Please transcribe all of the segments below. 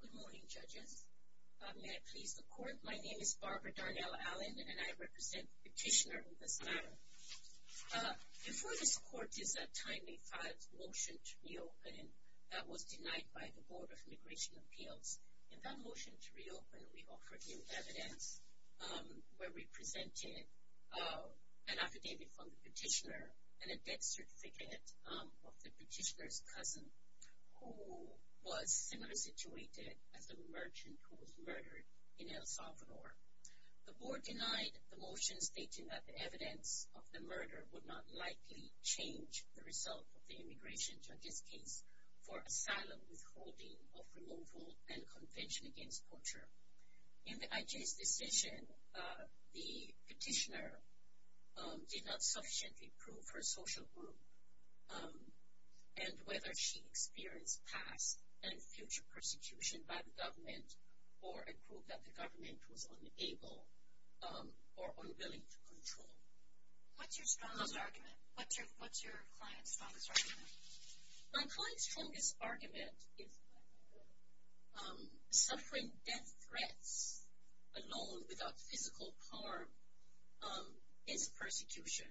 Good morning, judges. May I please the court? My name is Barbara Darnell Allen, and I represent the petitioner in this matter. Before this court is a timely filed motion to reopen that was denied by the Board of Immigration Appeals. In that motion to reopen, we offered new evidence where we presented an affidavit from the petitioner and a death certificate of the petitioner's cousin who was similarly situated as the merchant who was murdered in El Salvador. The board denied the motion stating that the evidence of the murder would not likely change the result of the immigration judge's case for asylum withholding of removal and convention against torture. In the IG's decision, the petitioner did not sufficiently prove her social group and whether she experienced past and future persecution by the government or a group that the government was unable or unwilling to control. What's your client's strongest argument? My client's strongest argument is that suffering death threats alone without physical harm is persecution.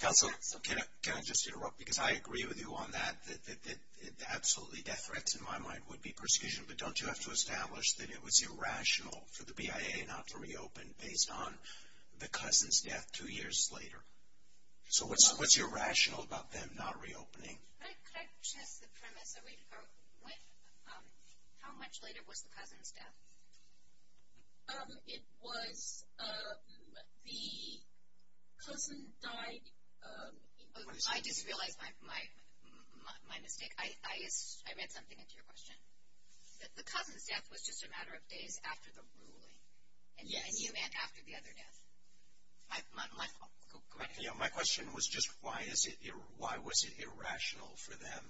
Counsel, can I just interrupt because I agree with you on that, that absolutely death threats in my mind would be persecution, but don't you have to establish that it was irrational for the BIA not to reopen based on the cousin's death two years later? So what's irrational about them not reopening? Can I just address the premise? How much later was the cousin's death? It was the cousin died... I just realized my mistake. I read something into your question. The cousin's death was just a matter of days after the ruling. Yes. And you meant after the other death. My question was just why was it irrational for them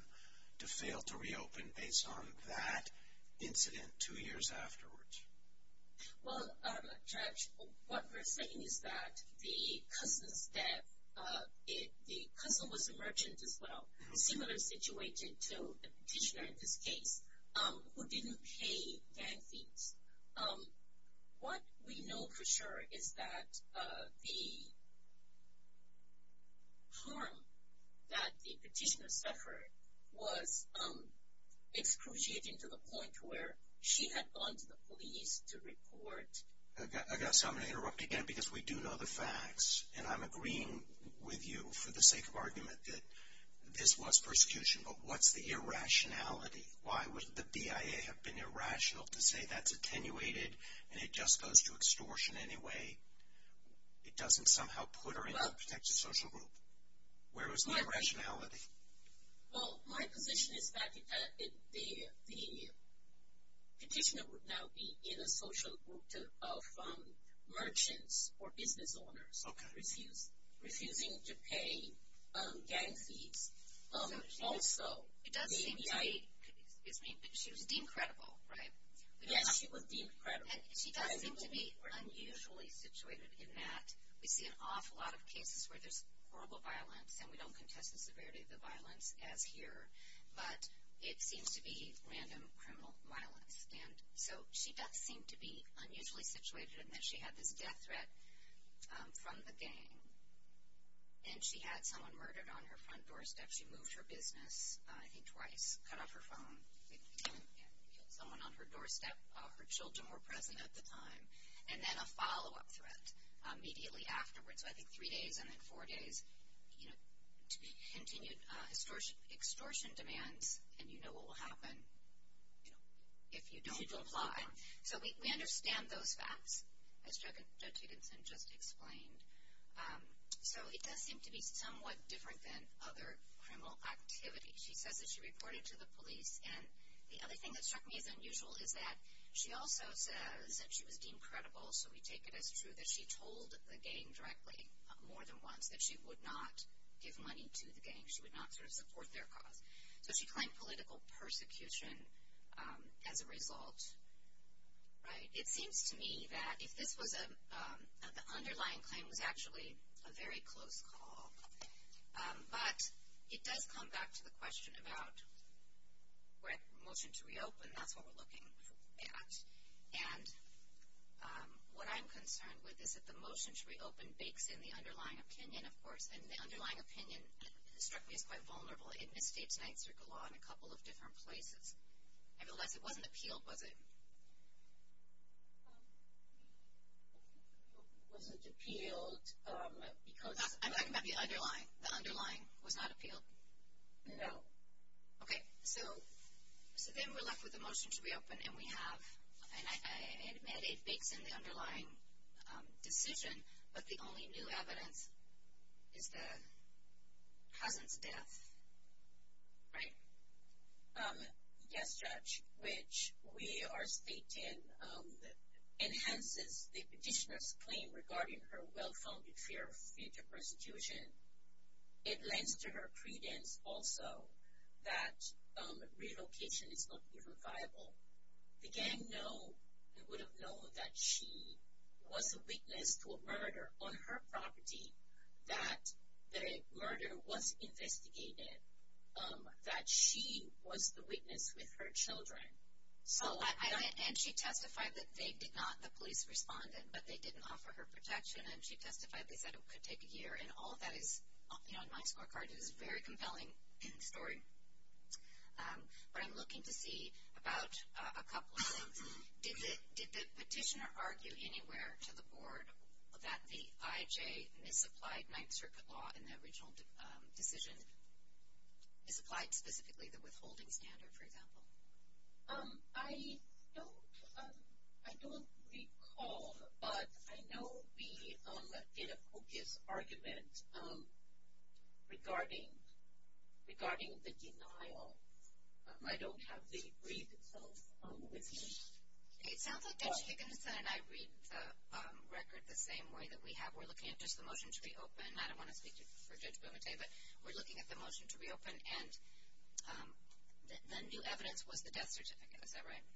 to fail to reopen based on that incident two years afterwards? Well, Judge, what we're saying is that the cousin's death, the cousin was a merchant as well, similar situation to the petitioner in this case, who didn't pay gang fees. What we know for sure is that the harm that the petitioner suffered was excruciating to the point where she had gone to the police to report. I guess I'm going to interrupt again because we do know the facts, and I'm agreeing with you for the sake of argument that this was persecution, but what's the irrationality? Why would the BIA have been irrational to say that's attenuated and it just goes to extortion anyway? It doesn't somehow put her in a protected social group. Where was the irrationality? Well, my position is that the petitioner would now be in a social group of merchants or business owners refusing to pay gang fees. Also, the BIA. She was deemed credible, right? Yes, she was deemed credible. And she does seem to be unusually situated in that we see an awful lot of cases where there's horrible violence, and we don't contest the severity of the violence as here, but it seems to be random criminal violence. And so she does seem to be unusually situated in that she had this death threat from the gang, and she had someone murdered on her front doorstep. She moved her business, I think, twice, cut off her phone, killed someone on her doorstep. Her children were present at the time. And then a follow-up threat immediately afterwards, so I think three days and then four days, you know, to be continued extortion demands, and you know what will happen if you don't comply. So we understand those facts, as Joe Tudenson just explained. So it does seem to be somewhat different than other criminal activity. She says that she reported to the police, and the other thing that struck me as unusual is that she also says that she was deemed credible, so we take it as true that she told the gang directly more than once that she would not give money to the gang. She would not sort of support their cause. So she claimed political persecution as a result, right? It seems to me that if this was a, the underlying claim was actually a very close call, but it does come back to the question about where motion to reopen, that's what we're looking at. And what I'm concerned with is that the motion to reopen bakes in the underlying opinion, of course, and the underlying opinion struck me as quite vulnerable. It misstates Ninth Circle Law in a couple of different places. Nevertheless, it wasn't appealed, was it? Was it appealed because? I'm talking about the underlying. The underlying was not appealed? No. Okay. So then we're left with the motion to reopen, and we have, and I admit it bakes in the underlying decision, but the only new evidence is the cousin's death, right? Yes, Judge. Which we are stating enhances the petitioner's claim regarding her well-founded fear of future persecution. It lends to her credence also that relocation is not even viable. The gang know and would have known that she was a witness to a murder on her property, that the murder was investigated, that she was the witness with her children. And she testified that they did not, the police responded, but they didn't offer her protection, and she testified they said it could take a year, and all of that is, you know, in my scorecard, it is a very compelling story. But I'm looking to see about a couple of things. Did the petitioner argue anywhere to the board that the IJ misapplied Ninth Circuit law in the original decision, misapplied specifically the withholding standard, for example? I don't recall, but I know we did a focus argument regarding the denial. I don't have the brief itself with me. It sounds like Judge Higginson and I read the record the same way that we have. We're looking at just the motion to reopen. I don't want to speak for Judge Bumate, but we're looking at the motion to reopen, and the new evidence was the death certificate. Is that right?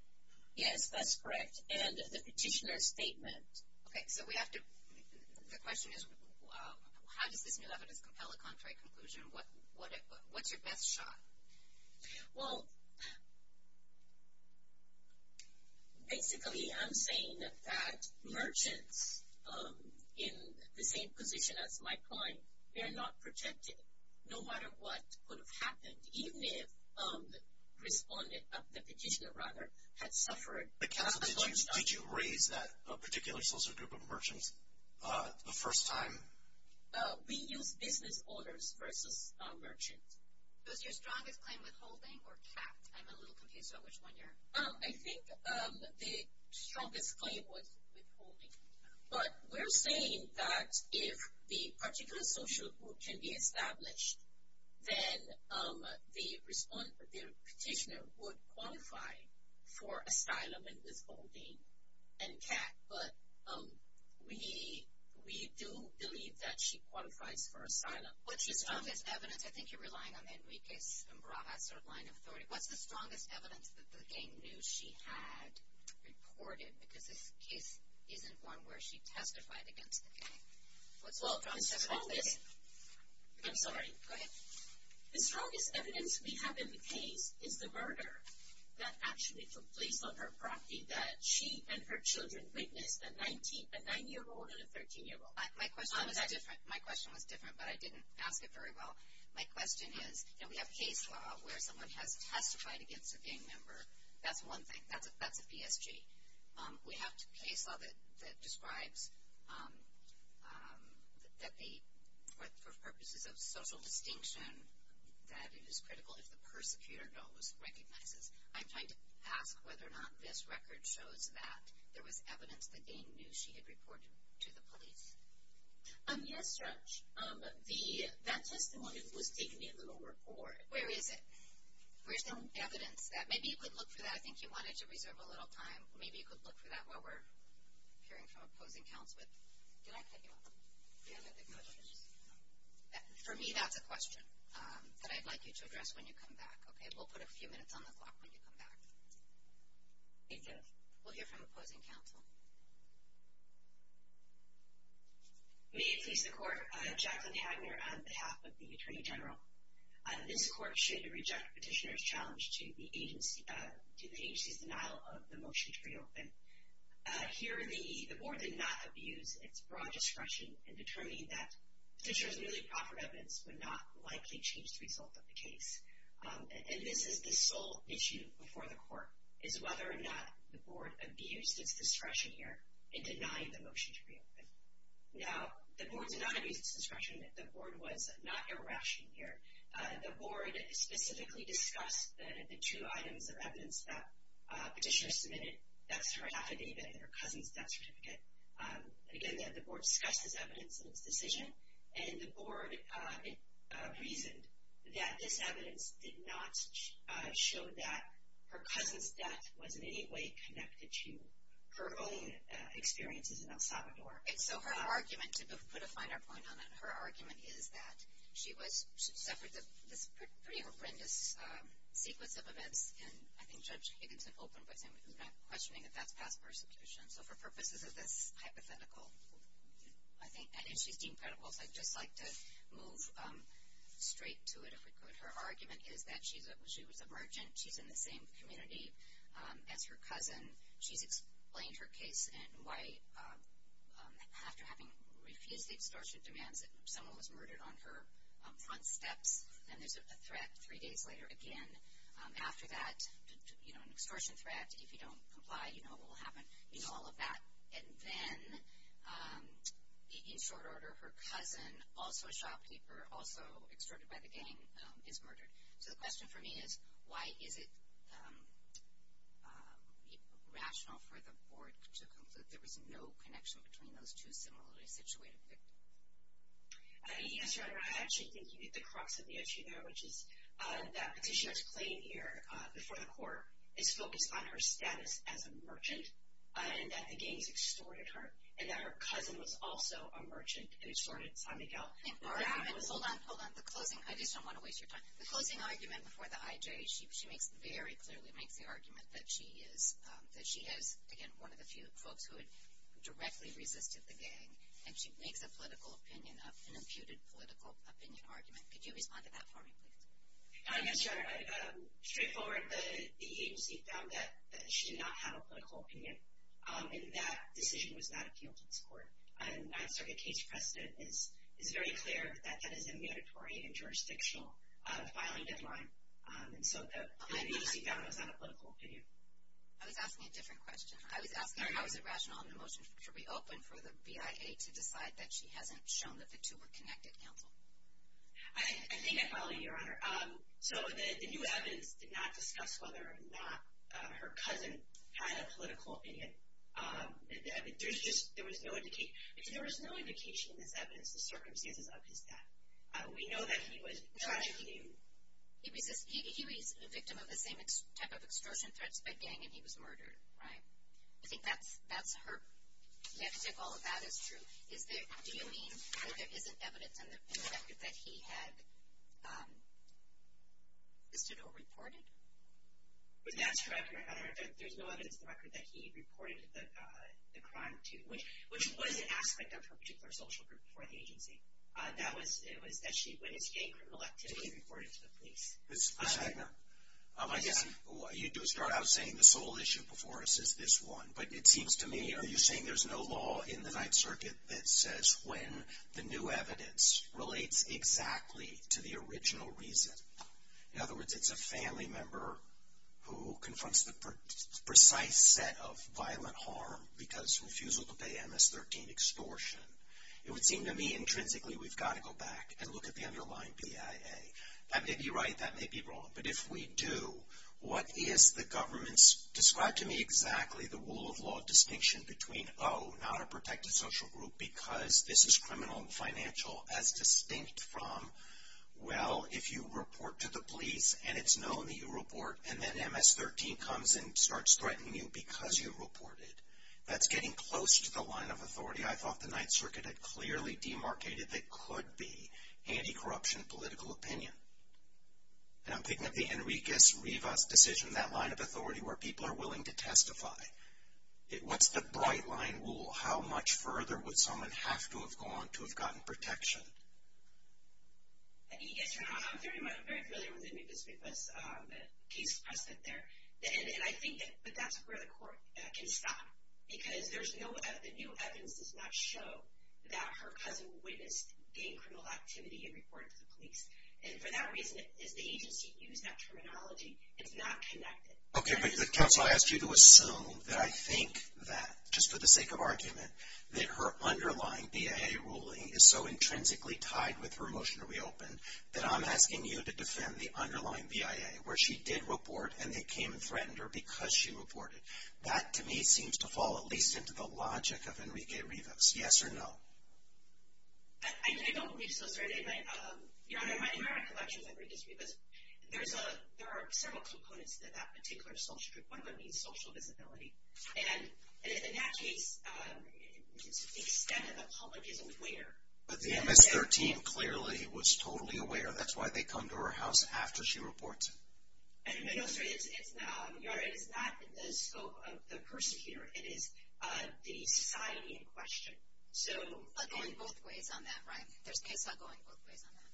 Yes, that's correct. And the petitioner's statement. Okay. So we have to, the question is how does this new evidence compel a contrary conclusion? What's your best shot? Well, basically I'm saying that merchants in the same position as Mike Klein, they're not protected no matter what could have happened, even if the petitioner had suffered. Did you raise that particular social group of merchants the first time? We used business owners versus merchants. Was your strongest claim withholding or capped? I'm a little confused about which one you're. I think the strongest claim was withholding. But we're saying that if the particular social group can be established, then the petitioner would qualify for asylum and withholding and capped. But we do believe that she qualifies for asylum. What's your strongest evidence? I think you're relying on the Enriquez and Barajas sort of line of authority. What's the strongest evidence that the gang knew she had reported? Because this case isn't one where she testified against the gang. I'm sorry. Go ahead. The strongest evidence we have in the case is the murder that actually took place on her property that she and her children witnessed, a 9-year-old and a 13-year-old. My question was different, but I didn't ask it very well. My question is, you know, we have case law where someone has testified against a gang member. That's one thing. That's a PSG. We have case law that describes that they, for purposes of social distinction, that it is critical if the persecutor knows, recognizes. I'm trying to ask whether or not this record shows that there was evidence the gang knew she had reported to the police. Yes, Judge. That testimony was taken in the law report. Where is it? Where's the evidence? Maybe you could look for that. I think you wanted to reserve a little time. Maybe you could look for that while we're hearing from opposing counsel. Did I cut you off? For me, that's a question that I'd like you to address when you come back. We'll put a few minutes on the clock when you come back. Thank you. We'll hear from opposing counsel. May it please the Court. Jacqueline Hagner on behalf of the Attorney General. This Court should reject Petitioner's challenge to the agency's denial of the motion to reopen. Here, the Board did not abuse its broad discretion in determining that Petitioner's newly proffered evidence would not likely change the result of the case. And this is the sole issue before the Court, is whether or not the Board abused its discretion here in denying the motion to reopen. Now, the Board did not abuse its discretion. The Board was not irrational here. The Board specifically discussed the two items of evidence that Petitioner submitted. That's her affidavit and her cousin's death certificate. Again, the Board discussed this evidence in its decision, and the Board reasoned that this evidence did not show that her cousin's death was in any way connected to her own experiences in El Salvador. And so her argument, to put a finer point on it, her argument is that she suffered this pretty horrendous sequence of events. And I think Judge Higginson opened by saying we're not questioning if that's past persecution. So for purposes of this hypothetical, I think, and she's deemed credible, so I'd just like to move straight to it, if we could. Her argument is that she was a merchant. She's in the same community as her cousin. She's explained her case and why, after having refused the extortion demands, that someone was murdered on her front steps, and there's a threat three days later again after that, you know, an extortion threat. If you don't comply, you know what will happen. You know all of that. And then, in short order, her cousin, also a shopkeeper, also extorted by the gang, is murdered. So the question for me is, why is it rational for the Board to conclude there was no connection between those two similarly situated victims? Yes, Your Honor, I actually think you hit the crux of the issue there, which is that petitioner's claim here before the court is focused on her status as a merchant, and that the gangs extorted her, and that her cousin was also a merchant and extorted San Miguel. Hold on, hold on, the closing, I just don't want to waste your time. The closing argument before the IJ, she makes very clearly, makes the argument that she is, again, one of the few folks who had directly resisted the gang, and she makes a political opinion of an imputed political opinion argument. Could you respond to that for me, please? Yes, Your Honor, straightforward, the agency found that she did not have a political opinion, and that decision was not appealed to this court. And I'd say the case precedent is very clear that that is a mandatory and jurisdictional filing deadline. And so the agency found it was not a political opinion. I was asking a different question. I was asking how is it rational and emotional to reopen for the BIA to decide that she hasn't shown that the two were connected, counsel? I think I followed you, Your Honor. So the new evidence did not discuss whether or not her cousin had a political opinion. There's just, there was no indication, because there was no indication in this evidence the circumstances of his death. We know that he was, Josh, he resisted, he was a victim of the same type of extortion threats by gang, and he was murdered, right? I think that's her, you have to take all of that as true. Is there, do you mean that there isn't evidence in the record that he had assisted or reported? That's correct, Your Honor. There's no evidence in the record that he reported the crime to, which was an aspect of her particular social group before the agency. That was, it was that she went into gang criminal activity and reported to the police. Ms. Wagner, I guess you do start out saying the sole issue before us is this one, but it seems to me, are you saying there's no law in the Ninth Circuit that says when the new evidence relates exactly to the original reason? In other words, it's a family member who confronts the precise set of violent harm because refusal to pay MS-13 extortion. It would seem to me intrinsically we've got to go back and look at the underlying BIA. That may be right, that may be wrong, but if we do, what is the government's, describe to me exactly the rule of law distinction between, oh, not a protected social group because this is criminal and financial, as distinct from, well, if you report to the police and it's known that you report, and then MS-13 comes and starts threatening you because you reported. That's getting close to the line of authority. I thought the Ninth Circuit had clearly demarcated that could be anti-corruption political opinion. And I'm thinking of the Enriquez-Rivas decision, that line of authority where people are willing to testify. What's the bright line rule? How much further would someone have to have gone to have gotten protection? Yes, Your Honor, I'm very familiar with Enriquez-Rivas case precedent there, and I think that's where the court can stop because there's no evidence, the new evidence does not show that her cousin witnessed any criminal activity and reported to the police. And for that reason, as the agency used that terminology, it's not connected. Okay, but counsel, I asked you to assume that I think that, just for the sake of argument, that her underlying BIA ruling is so intrinsically tied with her motion to reopen that I'm asking you to defend the underlying BIA where she did report and it came and threatened her because she reported. That, to me, seems to fall at least into the logic of Enriquez-Rivas. Yes or no? I don't believe so, sir. Your Honor, in my recollection of Enriquez-Rivas, there are several components to that particular social group. One of them being social visibility. And in that case, the extent of the public is aware. But the MS-13 clearly was totally aware. That's why they come to her house after she reports. No, sir, it's not. Your Honor, it is not the scope of the persecutor. It is the society in question. But going both ways on that, right? There's CASA going both ways on that.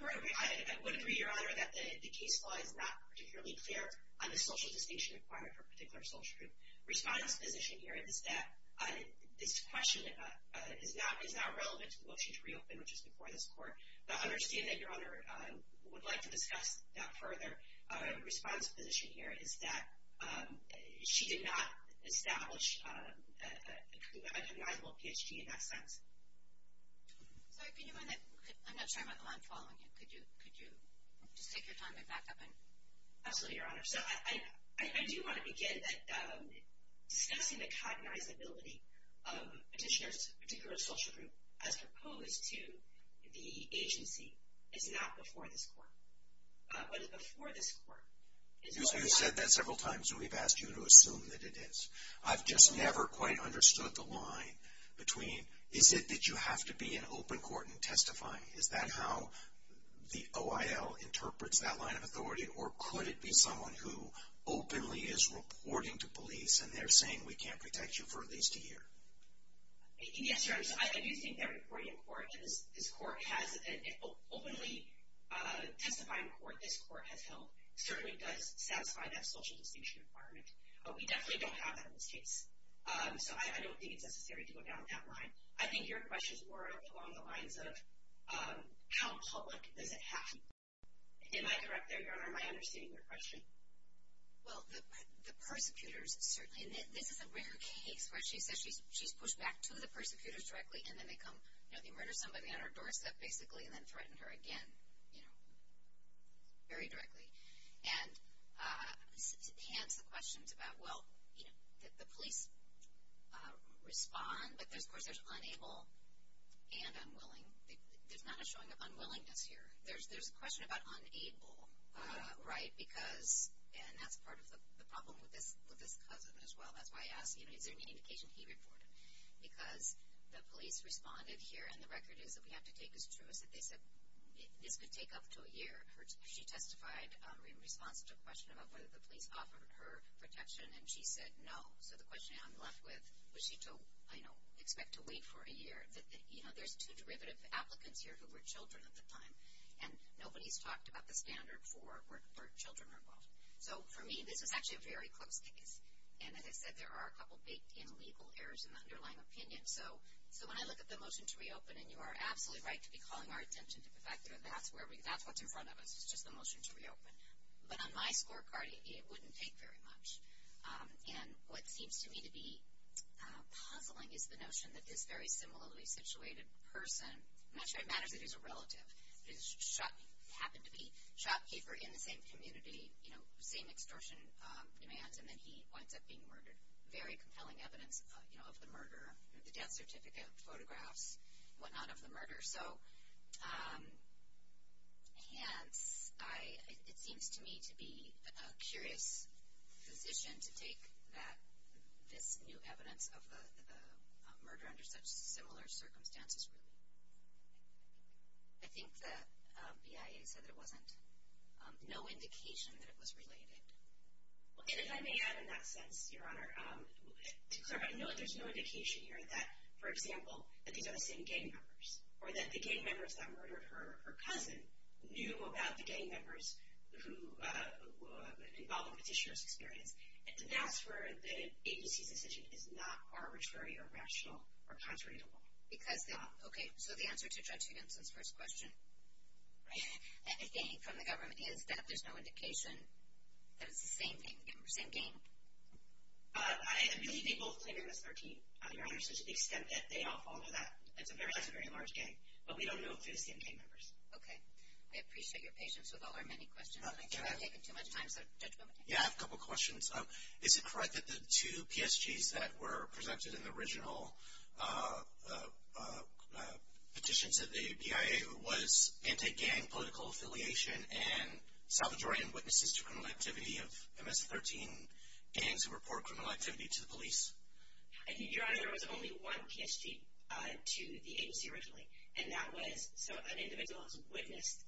I would agree, Your Honor, that the case law is not particularly clear on the social distinction required for a particular social group. My response to the position here is that this question is not relevant to the motion to reopen, which is before this Court. But I understand that Your Honor would like to discuss that further. My response to the position here is that she did not establish an unrecognizable PSG in that sense. I'm not sure I'm on the line following you. Could you just take your time and back up? Absolutely, Your Honor. So I do want to begin by discussing the cognizability of petitioners to a particular social group as opposed to the agency. It's not before this Court. But it's before this Court. You've said that several times, and we've asked you to assume that it is. I've just never quite understood the line between, is it that you have to be in open court and testify? Is that how the OIL interprets that line of authority? Or could it be someone who openly is reporting to police, and they're saying, we can't protect you for at least a year? Yes, Your Honor. So I do think that reporting in court, and this Court has openly testified in court, this Court has held, certainly does satisfy that social distinction requirement. We definitely don't have that in this case. So I don't think it's necessary to go down that line. I think your questions were along the lines of, how public does it have to be? Am I correct there, Your Honor? Am I understanding your question? Well, the persecutors certainly, and this is a rare case where she says she's pushed back to the persecutors directly, and then they come, you know, they murder somebody on her doorstep, basically, and then threaten her again, you know, very directly. And hence the questions about, well, you know, the police respond, but, of course, there's unable and unwilling. There's not a showing of unwillingness here. There's a question about unable, right, because, and that's part of the problem with this cousin as well. That's why I asked, you know, is there any indication he reported? Because the police responded here, and the record is that we have to take as true as they said. This could take up to a year. She testified in response to a question about whether the police offered her protection, and she said no. So the question I'm left with, was she to, you know, expect to wait for a year? You know, there's two derivative applicants here who were children at the time, and nobody's talked about the standard for children involved. So, for me, this is actually a very close case. And, as I said, there are a couple big illegal errors in the underlying opinion. So when I look at the motion to reopen, and you are absolutely right to be calling our attention to the fact that that's where we, that's what's in front of us. It's just the motion to reopen. But on my scorecard, it wouldn't take very much. And what seems to me to be puzzling is the notion that this very similarly situated person, much of it matters that he's a relative, but he happened to be shopkeeper in the same community, you know, same extortion demands, and then he winds up being murdered. Very compelling evidence, you know, of the murder, the death certificate, photographs, whatnot of the murder. So, hence, it seems to me to be a curious position to take that this new evidence of the murder under such similar circumstances. I think the BIA said that it wasn't, no indication that it was related. Well, and if I may add in that sense, Your Honor, I know there's no indication here that, for example, that these are the same gang members, or that the gang members that murdered her, her cousin, knew about the gang members who, involved in the petitioner's experience. And that's where the agency's decision is not arbitrary or rational or contradictable. Because, okay, so the answer to Judgy Benson's first question, right, I think, from the government is that there's no indication that it's the same gang members. Same gang? I believe they both claim MS-13, Your Honor, so to the extent that they all follow that, it's a very, that's a very large gang. But we don't know if they're the same gang members. Okay. I appreciate your patience with all our many questions, but I think we're taking too much time. So, Judge Bowman. Yeah, I have a couple questions. Is it correct that the two PSGs that were presented in the original petitions of the BIA was anti-gang political affiliation and salvage-oriented witnesses to criminal activity of MS-13 gangs who report criminal activity to the police? Your Honor, there was only one PSG to the agency originally, and that was so an individual has witnessed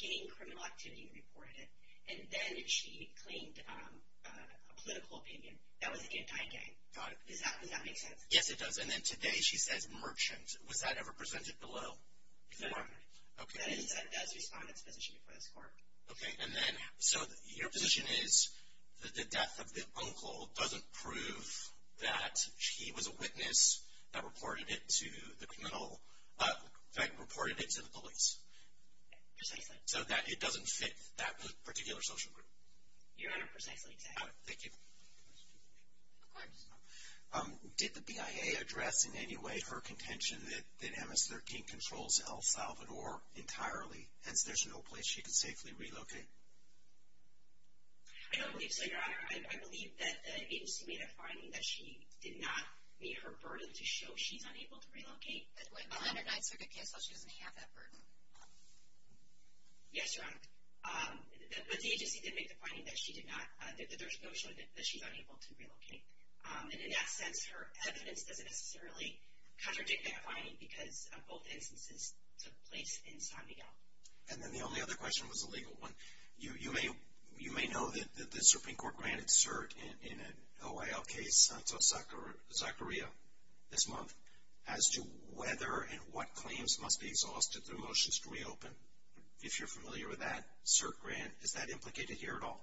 gang criminal activity and reported it, and then she claimed a political opinion. That was anti-gang. Does that make sense? Yes, it does. And then today she says merchants. Was that ever presented below? No, Your Honor. Okay. That is a respondent's position before this court. Okay. And then, so your position is that the death of the uncle doesn't prove that he was a witness that reported it to the police? Precisely. So that it doesn't fit that particular social group? Your Honor, precisely. Thank you. Of course. Did the BIA address in any way her contention that MS-13 controls El Salvador entirely, hence there's no place she can safely relocate? I don't believe so, Your Honor. I believe that the agency made a finding that she did not meet her burden to show she's unable to relocate. Well, under Ninth Circuit case law she doesn't have that burden. Yes, Your Honor. But the agency did make the finding that she did not, that there's no showing that she's unable to relocate. And in that sense, her evidence doesn't necessarily contradict that finding because both instances took place in San Miguel. And then the only other question was a legal one. You may know that the Supreme Court granted cert in an OIL case, Santos-Zacharia, this month, as to whether and what claims must be exhausted through motions to reopen. If you're familiar with that cert grant, is that implicated here at all?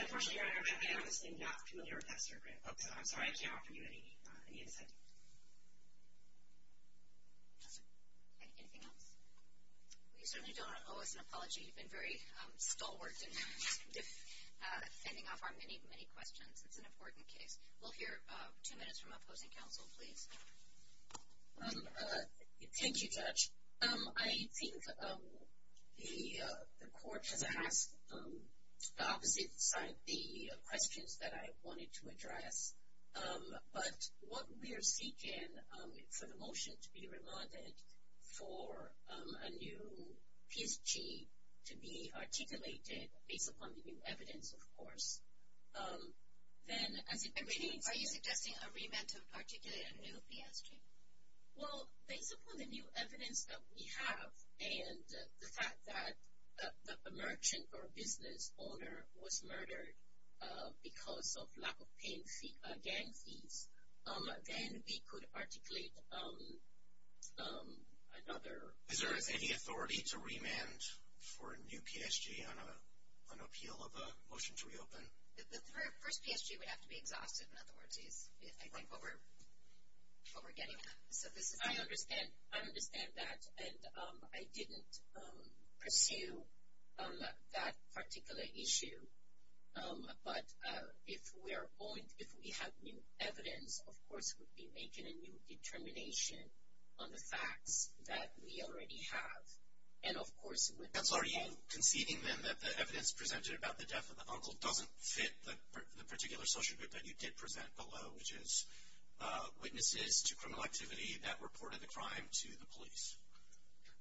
Unfortunately, Your Honor, I'm honestly not familiar with that cert grant. I'm sorry, I can't offer you any insight. Anything else? Well, you certainly don't owe us an apology. You've been very stalwart in sending off our many, many questions. It's an important case. Thank you, Judge. I think the Court has asked the opposite side of the questions that I wanted to address. But what we are seeking for the motion to be remanded for a new PSG to be articulated, based upon the new evidence, of course, then as it pertains to the case. Are you suggesting a remand to articulate a new PSG? Well, based upon the new evidence that we have and the fact that a merchant or a business owner was murdered because of lack of paying gang fees, then we could articulate another. Is there any authority to remand for a new PSG on appeal of a motion to reopen? The first PSG would have to be exhausted. In other words, I think what we're getting at. I understand that. And I didn't pursue that particular issue. But if we have new evidence, of course, we'd be making a new determination on the facts that we already have. And, of course, it would be — Are you conceding then that the evidence presented about the death of the uncle doesn't fit the particular social group that you did present below, which is witnesses to criminal activity that reported the crime to the police?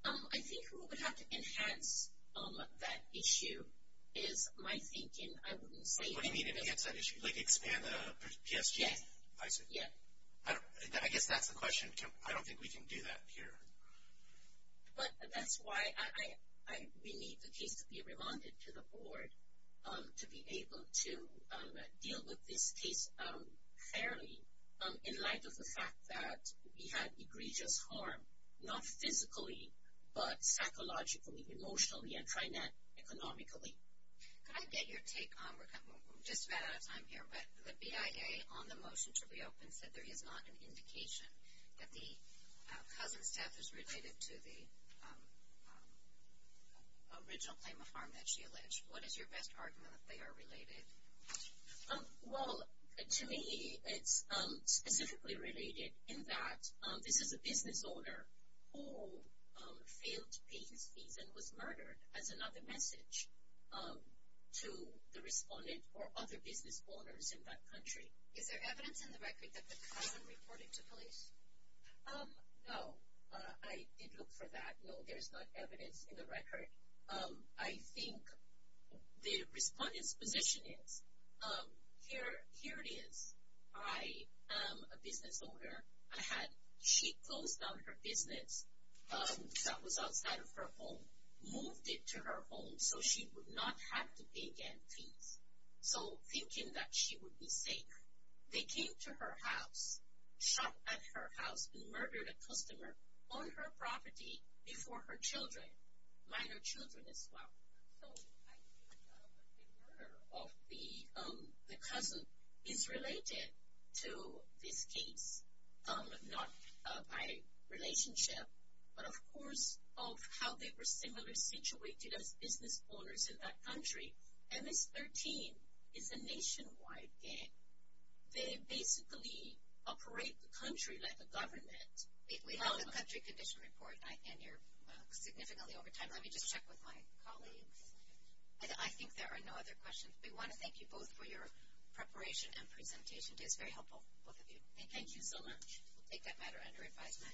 I think who would have to enhance that issue is my thinking. I wouldn't say — What do you mean enhance that issue? Like expand the PSG? Yes. I see. Yeah. I guess that's the question. I don't think we can do that here. But that's why we need the case to be remanded to the board to be able to deal with this case fairly, in light of the fact that we had egregious harm, not physically, but psychologically, emotionally, and economically. Could I get your take? We're just about out of time here. But the BIA, on the motion to reopen, said there is not an indication that the cousin's death is related to the original claim of harm that she alleged. What is your best argument that they are related? Well, to me, it's specifically related in that this is a business owner who failed to pay his fees and was murdered, as another message to the respondent or other business owners in that country. Is there evidence in the record that the cousin reported to police? No. I did look for that. No, there is not evidence in the record. I think the respondent's position is, here it is. I am a business owner. She closed down her business that was outside of her home, moved it to her home, so she would not have to pay again fees. So thinking that she would be safe, they came to her house, shot at her house, and murdered a customer on her property before her children, minor children as well. So I think the murder of the cousin is related to this case, not by relationship, but, of course, of how they were similarly situated as business owners in that country. MS-13 is a nationwide gang. They basically operate the country like a government. We have a country condition report, and you're significantly over time. Let me just check with my colleagues. I think there are no other questions. We want to thank you both for your preparation and presentation. It was very helpful, both of you. Thank you so much. We'll take that matter under advisement. Thank you.